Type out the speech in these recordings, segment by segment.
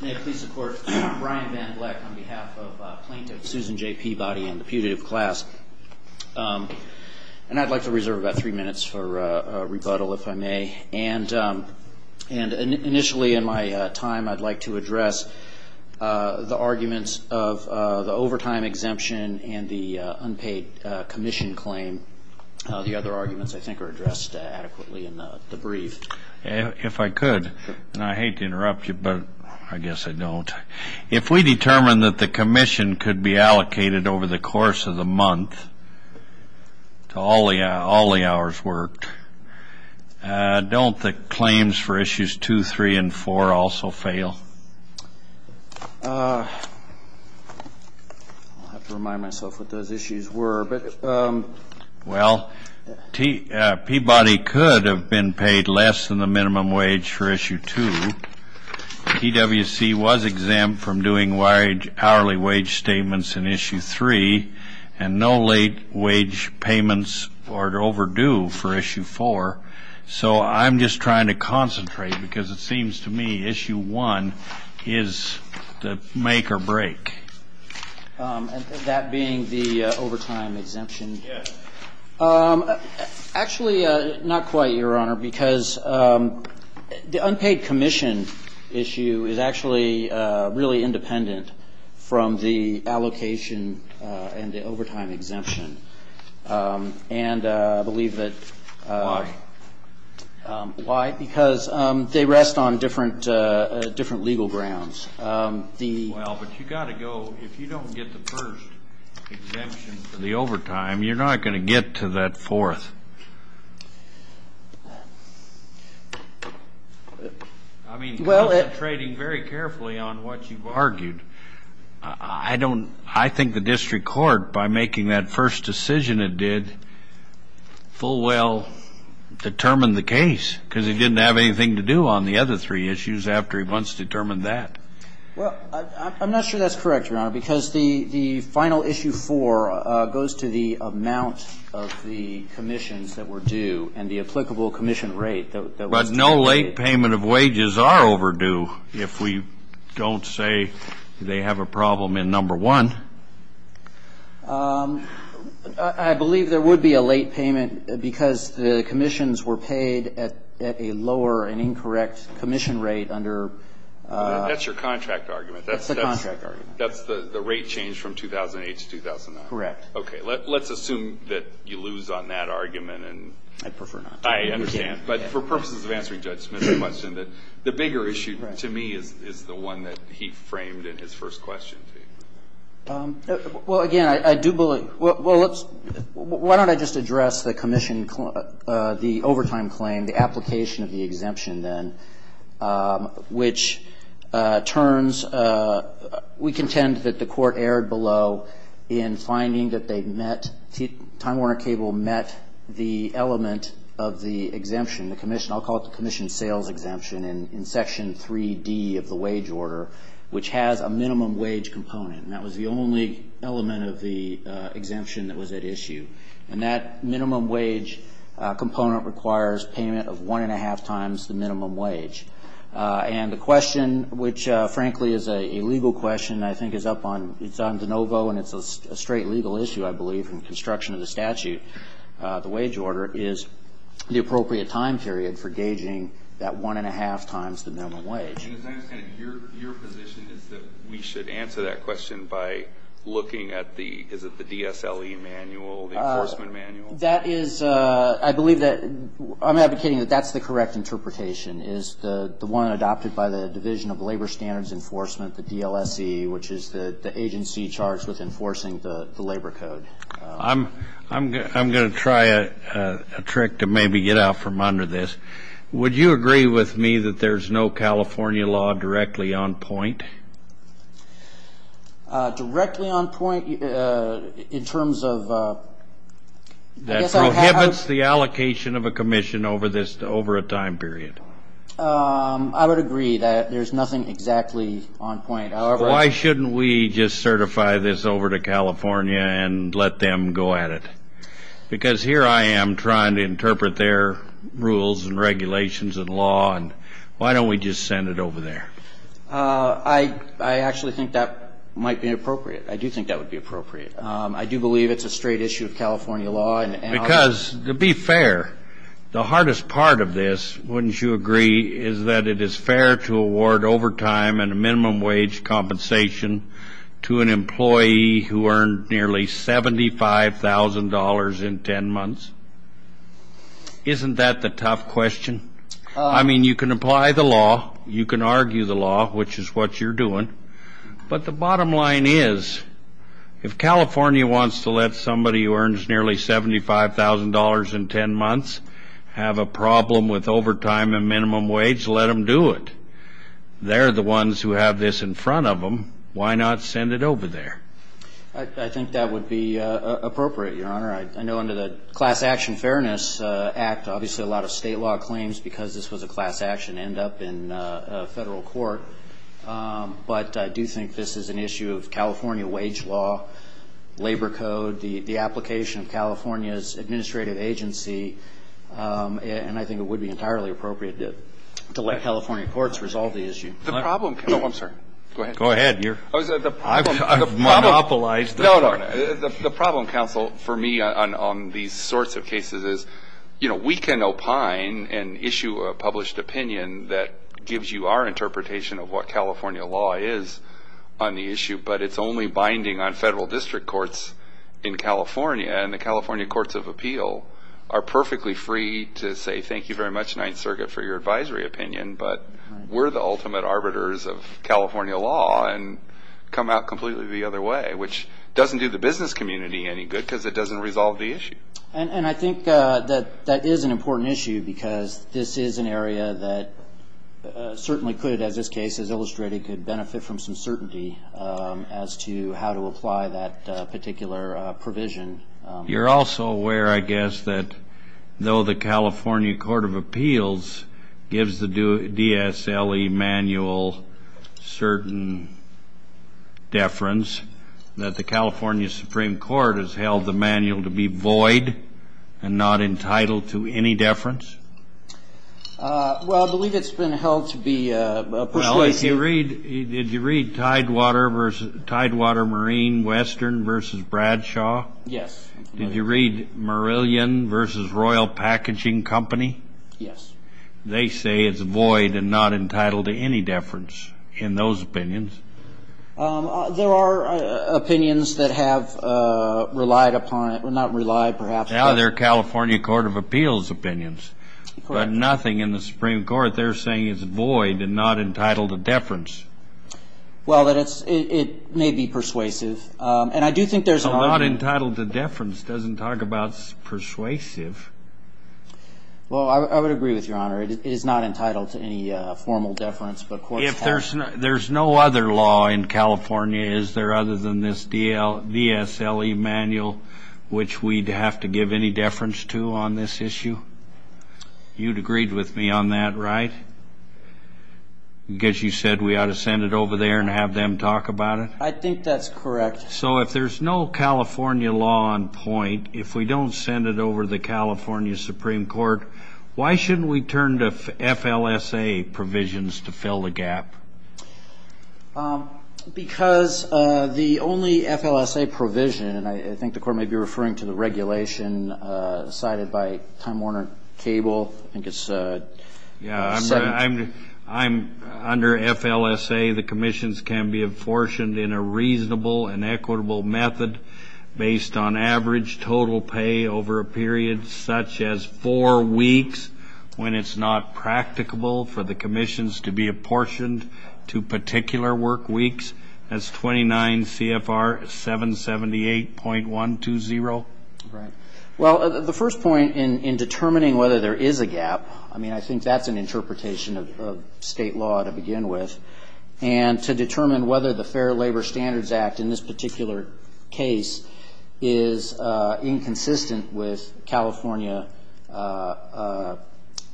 May I please support Brian Van Bleck on behalf of plaintiff Susan J. Peabody and the putative class? And I'd like to reserve about three minutes for rebuttal, if I may. And initially in my time I'd like to address the arguments of the overtime exemption and the unpaid commission claim. The other arguments, I think, are addressed adequately in the brief. If I could, and I hate to interrupt you, but I guess I don't. If we determine that the commission could be allocated over the course of the month to all the hours worked, don't the claims for issues two, three, and four also fail? I'll have to remind myself what those issues were. Well, Peabody could have been paid less than the minimum wage for issue two. EWC was exempt from doing hourly wage statements in issue three and no late wage payments or overdue for issue four. So I'm just trying to concentrate because it seems to me issue one is the make or break. And that being the overtime exemption? Yes. Actually, not quite, Your Honor, because the unpaid commission issue is actually really independent from the allocation and the overtime exemption. And I believe that why? Because they rest on different legal grounds. Well, but you've got to go. If you don't get the first exemption for the overtime, you're not going to get to that fourth. I mean, concentrating very carefully on what you've argued, I don't – I think the district court, by making that first decision it did, full well determined the case because it didn't have anything to do on the other three issues after it once determined that. Well, I'm not sure that's correct, Your Honor, because the final issue four goes to the amount of the commissions that were due and the applicable commission rate that was due. But no late payment of wages are overdue if we don't say they have a problem in number one. I believe there would be a late payment because the commissions were paid at a lower and incorrect commission rate under – That's your contract argument. That's the contract argument. That's the rate change from 2008 to 2009. Correct. Okay. Let's assume that you lose on that argument and – I'd prefer not. I understand. But for purposes of answering Judge Smith's question, the bigger issue to me is the one that he framed in his first question to you. Well, again, I do believe – well, let's – why don't I just address the commission – the overtime claim, the application of the exemption then, which turns – we contend that the court erred below in finding that they met – Time Warner Cable met the element of the exemption, the commission – I'll call it the commission sales exemption in Section 3D of the wage order, which has a minimum wage component. And that was the only element of the exemption that was at issue. And that minimum wage component requires payment of one-and-a-half times the minimum wage. And the question, which, frankly, is a legal question, I think is up on – it's on de novo, and it's a straight legal issue, I believe, in construction of the statute, the wage order, is the appropriate time period for gauging that one-and-a-half times the minimum wage. Your position is that we should answer that question by looking at the – is it the DSLE manual, the enforcement manual? That is – I believe that – I'm advocating that that's the correct interpretation, is the one adopted by the Division of Labor Standards Enforcement, the DLSE, which is the agency charged with enforcing the labor code. I'm going to try a trick to maybe get out from under this. Would you agree with me that there's no California law directly on point? Directly on point in terms of – I guess I would have – That prohibits the allocation of a commission over a time period. I would agree that there's nothing exactly on point. Why shouldn't we just certify this over to California and let them go at it? Because here I am trying to interpret their rules and regulations and law, and why don't we just send it over there? I actually think that might be appropriate. I do think that would be appropriate. I do believe it's a straight issue of California law. Because, to be fair, the hardest part of this, wouldn't you agree, is that it is fair to award overtime and a minimum wage compensation to an employee who earned nearly $75,000 in 10 months? Isn't that the tough question? I mean, you can apply the law. You can argue the law, which is what you're doing. But the bottom line is, if California wants to let somebody who earns nearly $75,000 in 10 months have a problem with overtime and minimum wage, let them do it. They're the ones who have this in front of them. Why not send it over there? I think that would be appropriate, Your Honor. I know under the Class Action Fairness Act, obviously a lot of state law claims because this was a class action end up in federal court. But I do think this is an issue of California wage law, labor code, the application of California's administrative agency. And I think it would be entirely appropriate to let California courts resolve the issue. The problem, counsel, for me on these sorts of cases is, you know, we can opine and issue a published opinion that gives you our interpretation of what California law is on the issue, but it's only binding on federal district courts in California. And the California Courts of Appeal are perfectly free to say, thank you very much, Ninth Circuit, for your advisory opinion, but we're the ultimate arbiters of California law and come out completely the other way, which doesn't do the business community any good because it doesn't resolve the issue. And I think that that is an important issue because this is an area that certainly could, as this case has illustrated, could benefit from some certainty as to how to apply that particular provision. You're also aware, I guess, that though the California Court of Appeals gives the DSLE manual certain deference, that the California Supreme Court has held the manual to be void and not entitled to any deference? Well, I believe it's been held to be a persuasive. Well, did you read Tidewater Marine Western v. Bradshaw? Yes. Did you read Merillion v. Royal Packaging Company? Yes. They say it's void and not entitled to any deference in those opinions. There are opinions that have relied upon it. Well, not relied, perhaps, but. Now they're California Court of Appeals opinions. Correct. But nothing in the Supreme Court, they're saying it's void and not entitled to deference. Well, it may be persuasive. And I do think there's an argument. It's not entitled to deference. It doesn't talk about persuasive. Well, I would agree with Your Honor. It is not entitled to any formal deference, but courts have. There's no other law in California, is there, other than this DSLE manual, which we'd have to give any deference to on this issue? You'd agree with me on that, right? Because you said we ought to send it over there and have them talk about it? I think that's correct. So if there's no California law on point, if we don't send it over to the California Supreme Court, why shouldn't we turn to FLSA provisions to fill the gap? Because the only FLSA provision, and I think the Court may be referring to the regulation cited by Time Warner Cable, I think it's 17. Under FLSA, the commissions can be apportioned in a reasonable and equitable method based on average total pay over a period such as four weeks, when it's not practicable for the commissions to be apportioned to particular work weeks. That's 29 CFR 778.120. Right. Well, the first point in determining whether there is a gap, I mean, I think that's an interpretation of state law to begin with, and to determine whether the Fair Labor Standards Act in this particular case is inconsistent with California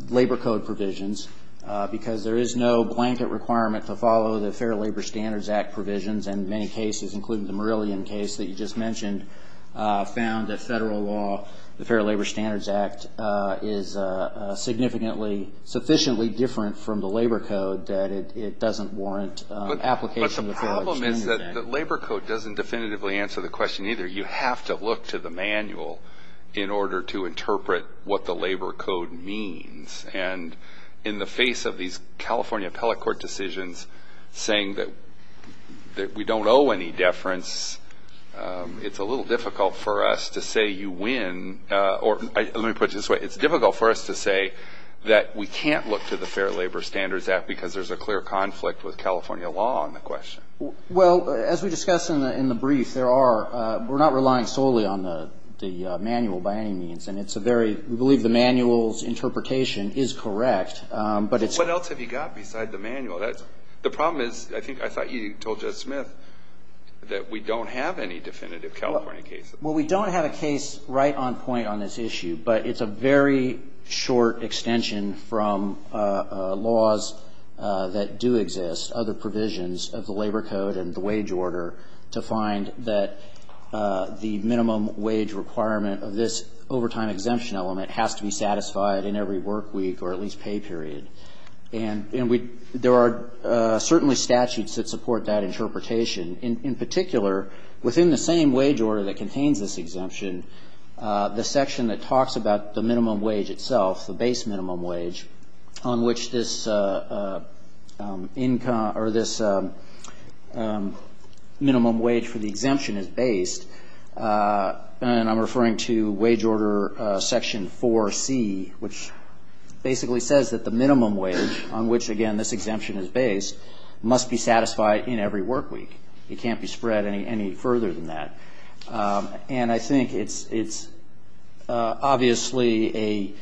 labor code provisions, because there is no blanket requirement to follow the Fair Labor Standards Act provisions. And many cases, including the Murillian case that you just mentioned, found that Federal law, the Fair Labor Standards Act, is significantly sufficiently different from the labor code that it doesn't warrant application of the Fair Labor Standards Act. But the problem is that the labor code doesn't definitively answer the question either. You have to look to the manual in order to interpret what the labor code means. And in the face of these California appellate court decisions saying that we don't owe any deference, it's a little difficult for us to say you win, or let me put it this way, it's difficult for us to say that we can't look to the Fair Labor Standards Act because there's a clear conflict with California law on the question. Well, as we discussed in the brief, there are, we're not relying solely on the manual by any means, and it's a very, we believe the manual's interpretation is correct, but it's. What else have you got beside the manual? The problem is, I think I thought you told Judge Smith, that we don't have any definitive California cases. Well, we don't have a case right on point on this issue, but it's a very short extension from laws that do exist, other provisions of the labor code and the wage order, to find that the minimum wage requirement of this overtime exemption element has to be satisfied in every work week or at least pay period. And we, there are certainly statutes that support that interpretation. In particular, within the same wage order that contains this exemption, the section that talks about the minimum wage itself, the base minimum wage on which this income, or this minimum wage for the exemption is based, and I'm referring to wage order section 4C, which basically says that the minimum wage on which, again, this exemption is based must be satisfied in every work week. It can't be spread any further than that. And I think it's obviously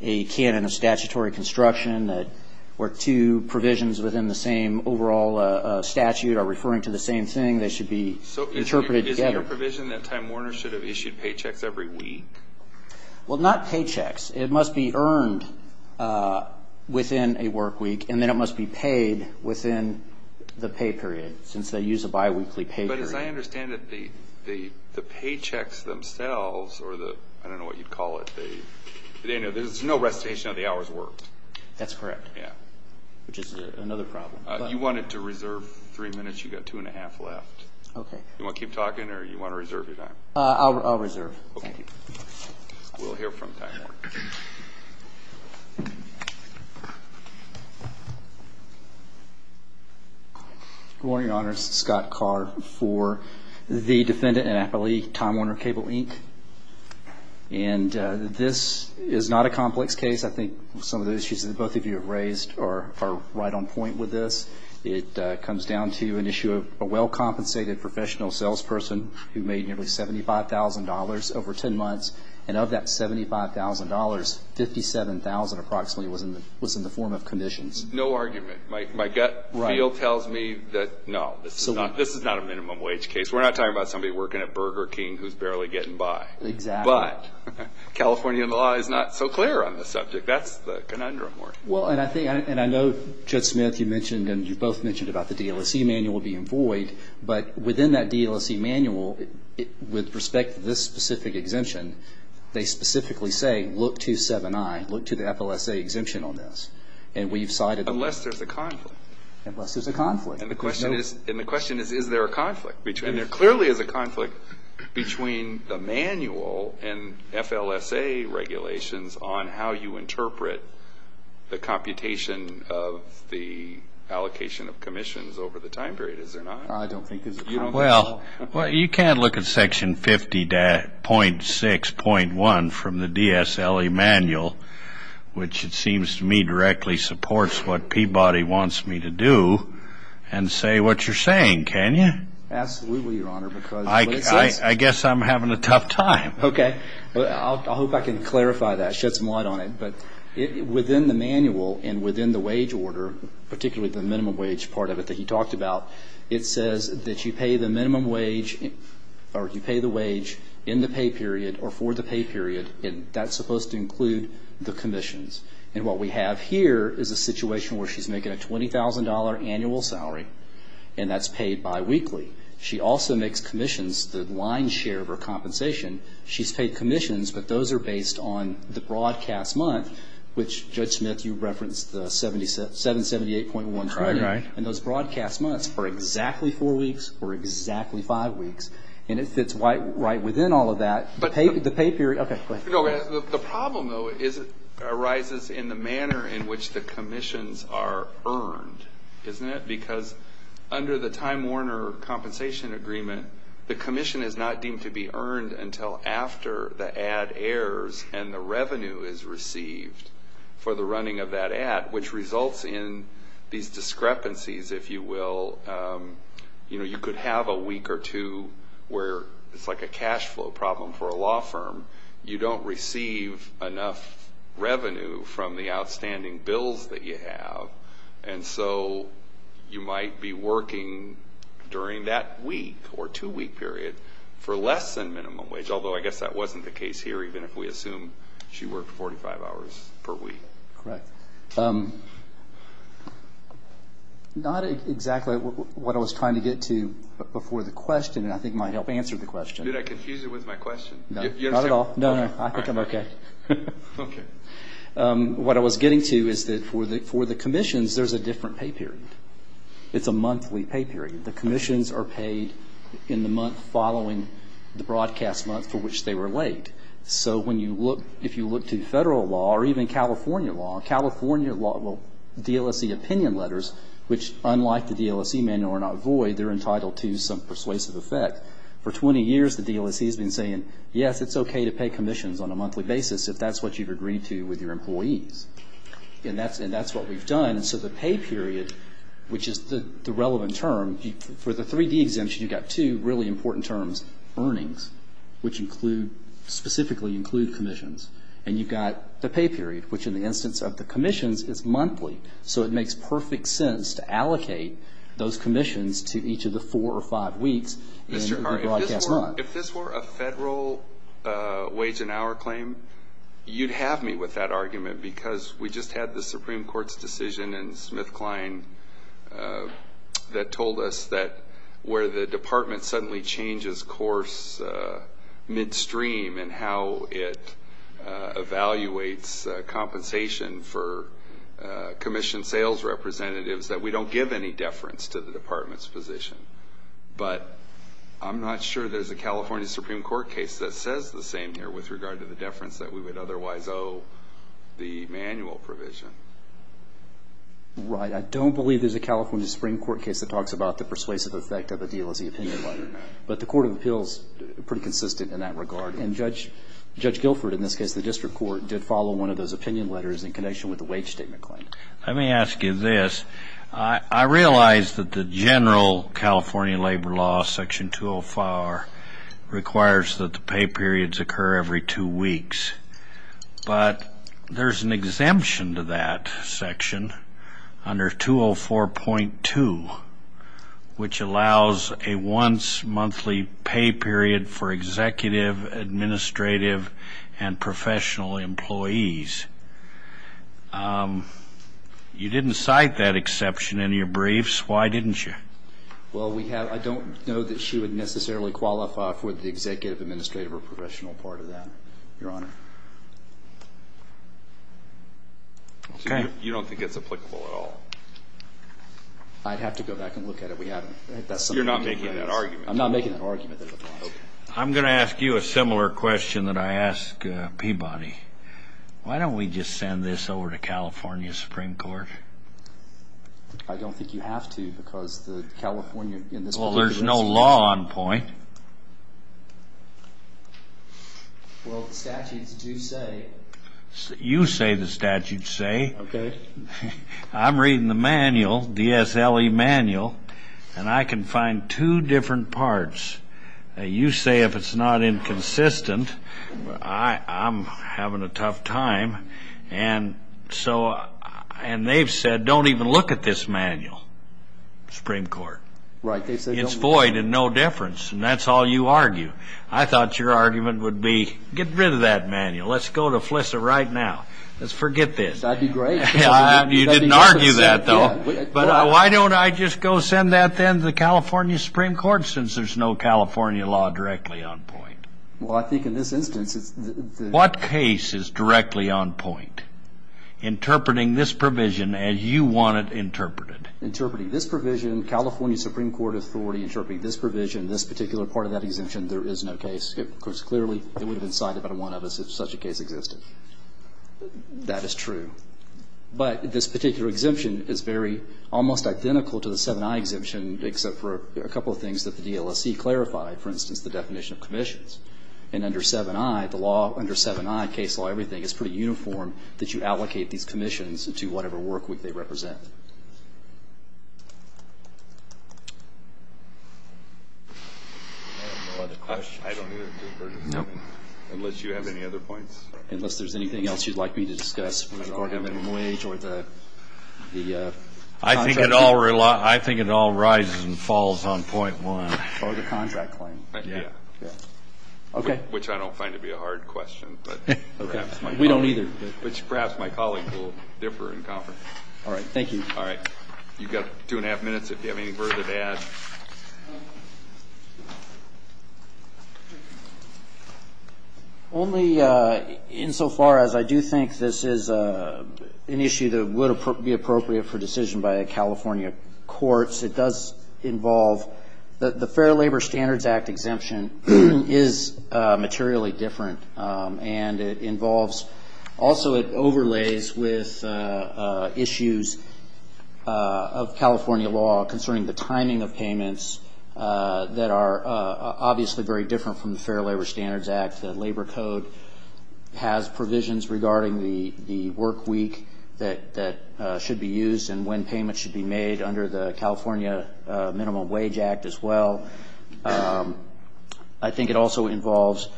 a canon of statutory construction where two provisions within the same overall statute are referring to the same thing. They should be interpreted together. So isn't your provision that Time Warners should have issued paychecks every week? Well, not paychecks. It must be earned within a work week, and then it must be paid within the pay period since they use a biweekly pay period. But as I understand it, the paychecks themselves, or the, I don't know what you'd call it, there's no recitation of the hour's worth. That's correct. Yeah. Which is another problem. You wanted to reserve three minutes. You've got two and a half left. Okay. Do you want to keep talking or do you want to reserve your time? I'll reserve. Okay. We'll hear from time. Go ahead. Good morning, Your Honors. Scott Carr for the Defendant and Appellee Time Warner Cable, Inc. And this is not a complex case. I think some of the issues that both of you have raised are right on point with this. It comes down to an issue of a well-compensated professional salesperson who made nearly $75,000 over ten months, and of that $75,000, $57,000 approximately was in the form of commissions. No argument. My gut feel tells me that, no, this is not a minimum wage case. We're not talking about somebody working at Burger King who's barely getting by. Exactly. But California law is not so clear on this subject. That's the conundrum. Well, and I think, and I know, Judge Smith, you mentioned, and you both mentioned about the DLSE manual being void. But within that DLSE manual, with respect to this specific exemption, they specifically say, look to 7i, look to the FLSA exemption on this. And we've cited those. Unless there's a conflict. Unless there's a conflict. And the question is, is there a conflict? And there clearly is a conflict between the manual and FLSA regulations on how you interpret the computation of the allocation of commissions over the time period, is there not? I don't think there's a conflict at all. Well, you can't look at Section 50.6.1 from the DSLE manual, which it seems to me directly supports what Peabody wants me to do, and say what you're saying, can you? Absolutely, Your Honor. I guess I'm having a tough time. Okay. I hope I can clarify that, shed some light on it. But within the manual and within the wage order, particularly the minimum wage part of it that he talked about, it says that you pay the minimum wage or you pay the wage in the pay period or for the pay period, and that's supposed to include the commissions. And what we have here is a situation where she's making a $20,000 annual salary, and that's paid biweekly. She also makes commissions, the line share of her compensation. She's paid commissions, but those are based on the broadcast month, which, Judge Smith, you referenced the $778.12. Right, right. And those broadcast months are exactly four weeks or exactly five weeks, and it fits right within all of that, the pay period. Okay, go ahead. The problem, though, arises in the manner in which the commissions are earned, isn't it? Because under the Time Warner Compensation Agreement, the commission is not deemed to be earned until after the ad airs and the revenue is received for the running of that ad, which results in these discrepancies, if you will. You know, you could have a week or two where it's like a cash flow problem for a law firm. You don't receive enough revenue from the outstanding bills that you have, and so you might be working during that week or two-week period for less than minimum wage, although I guess that wasn't the case here, even if we assume she worked 45 hours per week. Correct. Not exactly what I was trying to get to before the question, and I think it might help answer the question. Did I confuse you with my question? No, not at all. No, no, I think I'm okay. Okay. What I was getting to is that for the commissions, there's a different pay period. It's a monthly pay period. The commissions are paid in the month following the broadcast month for which they were late. So if you look to federal law or even California law, California DLSE opinion letters, which unlike the DLSE manual are not void, they're entitled to some persuasive effect. For 20 years, the DLSE has been saying, yes, it's okay to pay commissions on a monthly basis if that's what you've agreed to with your employees, and that's what we've done. And so the pay period, which is the relevant term, for the 3D exemption you've got two really important terms, earnings, which include, specifically include commissions. And you've got the pay period, which in the instance of the commissions is monthly. So it makes perfect sense to allocate those commissions to each of the four or five weeks in the broadcast month. Mr. Hart, if this were a federal wage and hour claim, you'd have me with that argument because we just had the Supreme Court's decision in SmithKline that told us that where the department suddenly changes course midstream in how it evaluates compensation for commission sales representatives, that we don't give any deference to the department's position. But I'm not sure there's a California Supreme Court case that says the same with regard to the deference that we would otherwise owe the manual provision. Right. I don't believe there's a California Supreme Court case that talks about the persuasive effect of a deal as the opinion letter. But the Court of Appeals is pretty consistent in that regard. And Judge Guilford, in this case the district court, did follow one of those opinion letters in connection with the wage statement claim. Let me ask you this. I realize that the general California labor law, Section 205, requires that the pay periods occur every two weeks. But there's an exemption to that section under 204.2, which allows a once-monthly pay period for executive, administrative, and professional employees. You didn't cite that exception in your briefs. Why didn't you? Well, I don't know that she would necessarily qualify for the executive, administrative, or professional part of that, Your Honor. You don't think it's applicable at all? I'd have to go back and look at it. We haven't. You're not making that argument. I'm not making that argument. I'm going to ask you a similar question that I ask Peabody. Why don't we just send this over to California Supreme Court? I don't think you have to because the California in this particular case. Well, there's no law on point. Well, the statutes do say. You say the statutes say. Okay. I'm reading the manual, the SLE manual, and I can find two different parts. You say if it's not inconsistent, I'm having a tough time. And they've said don't even look at this manual, Supreme Court. Right. It's void and no difference, and that's all you argue. I thought your argument would be get rid of that manual. Let's go to FLISA right now. Let's forget this. That would be great. You didn't argue that, though. But why don't I just go send that then to the California Supreme Court since there's no California law directly on point? Well, I think in this instance. What case is directly on point? Interpreting this provision as you want it interpreted. Interpreting this provision, California Supreme Court authority interpreting this provision, this particular part of that exemption, there is no case. Of course, clearly it would have been cited by one of us if such a case existed. That is true. But this particular exemption is very almost identical to the 7i exemption, except for a couple of things that the DLSE clarified, for instance, the definition of commissions. And under 7i, the law under 7i, case law, everything, it's pretty uniform that you allocate these commissions to whatever work they represent. I have no other questions. I don't either. Unless you have any other points. Unless there's anything else you'd like me to discuss with regard to minimum wage or the contract. I think it all rises and falls on point one. Or the contract claim. Yeah. Okay. Which I don't find to be a hard question. Okay. We don't either. Which perhaps my colleagues will differ in conference. All right. Thank you. All right. You've got two and a half minutes if you have any further to add. Only insofar as I do think this is an issue that would be appropriate for decision by the California courts. It does involve the Fair Labor Standards Act exemption is materially different. And it involves also it overlays with issues of California law concerning the timing of payments that are obviously very different from the Fair Labor Standards Act. The labor code has provisions regarding the work week that should be used and when payments should be made under the California Minimum Wage Act as well. I think it also involves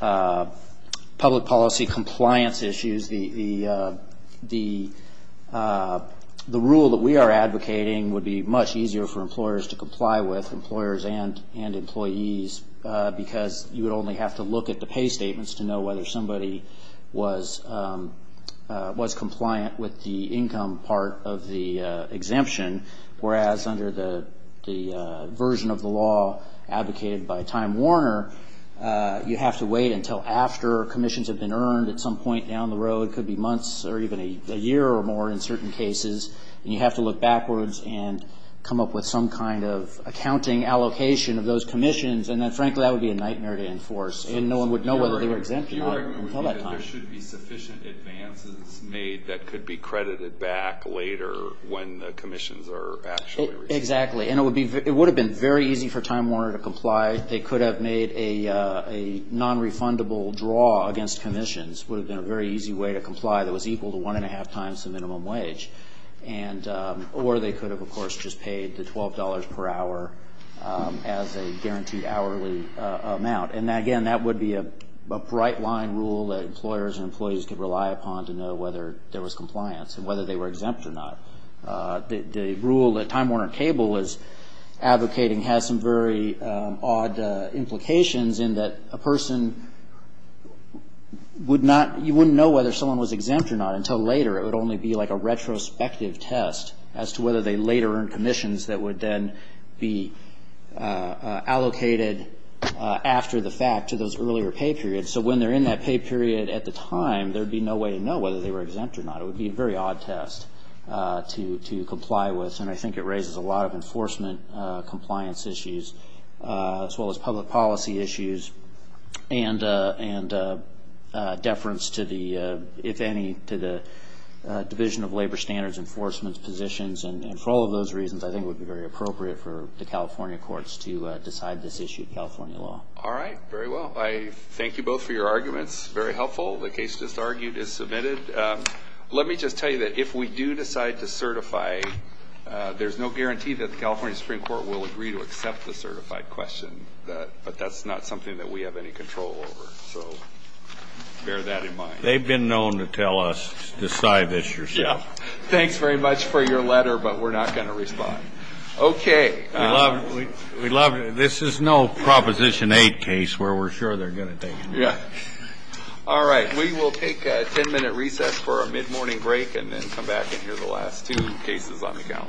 public policy compliance issues. The rule that we are advocating would be much easier for employers to comply with, employers and employees, because you would only have to look at the pay statements to know whether somebody was compliant with the income part of the exemption. Whereas under the version of the law advocated by Time Warner, you have to wait until after commissions have been earned at some point down the road. It could be months or even a year or more in certain cases. And you have to look backwards and come up with some kind of accounting allocation of those commissions. And then, frankly, that would be a nightmare to enforce. And no one would know whether they were exempt or not until that time. Your argument would be that there should be sufficient advances made that could be credited back later when the commissions are actually received. Exactly. And it would have been very easy for Time Warner to comply. They could have made a nonrefundable draw against commissions. It would have been a very easy way to comply that was equal to one and a half times the minimum wage. Or they could have, of course, just paid the $12 per hour as a guaranteed hourly amount. And, again, that would be a bright line rule that employers and employees could rely upon to know whether there was compliance and whether they were exempt or not. The rule that Time Warner Cable was advocating has some very odd implications in that a person would not you wouldn't know whether someone was exempt or not until later. It would only be like a retrospective test as to whether they later earned commissions that would then be allocated after the fact to those earlier pay periods. So when they're in that pay period at the time, there would be no way to know whether they were exempt or not. It would be a very odd test to comply with. And I think it raises a lot of enforcement compliance issues as well as public policy issues and deference to the, if any, to the Division of Labor Standards enforcement positions. And for all of those reasons, I think it would be very appropriate for the California courts to decide this issue in California law. All right. Very well. I thank you both for your arguments. Very helpful. The case just argued is submitted. Let me just tell you that if we do decide to certify, there's no guarantee that the California Supreme Court will agree to accept the certified question. But that's not something that we have any control over. So bear that in mind. They've been known to tell us, decide this yourself. Yeah. Thanks very much for your letter, but we're not going to respond. Okay. We love it. This is no Proposition 8 case where we're sure they're going to take it. Yeah. All right. We will take a ten-minute recess for a mid-morning break and then come back and hear the last two cases on the calendar.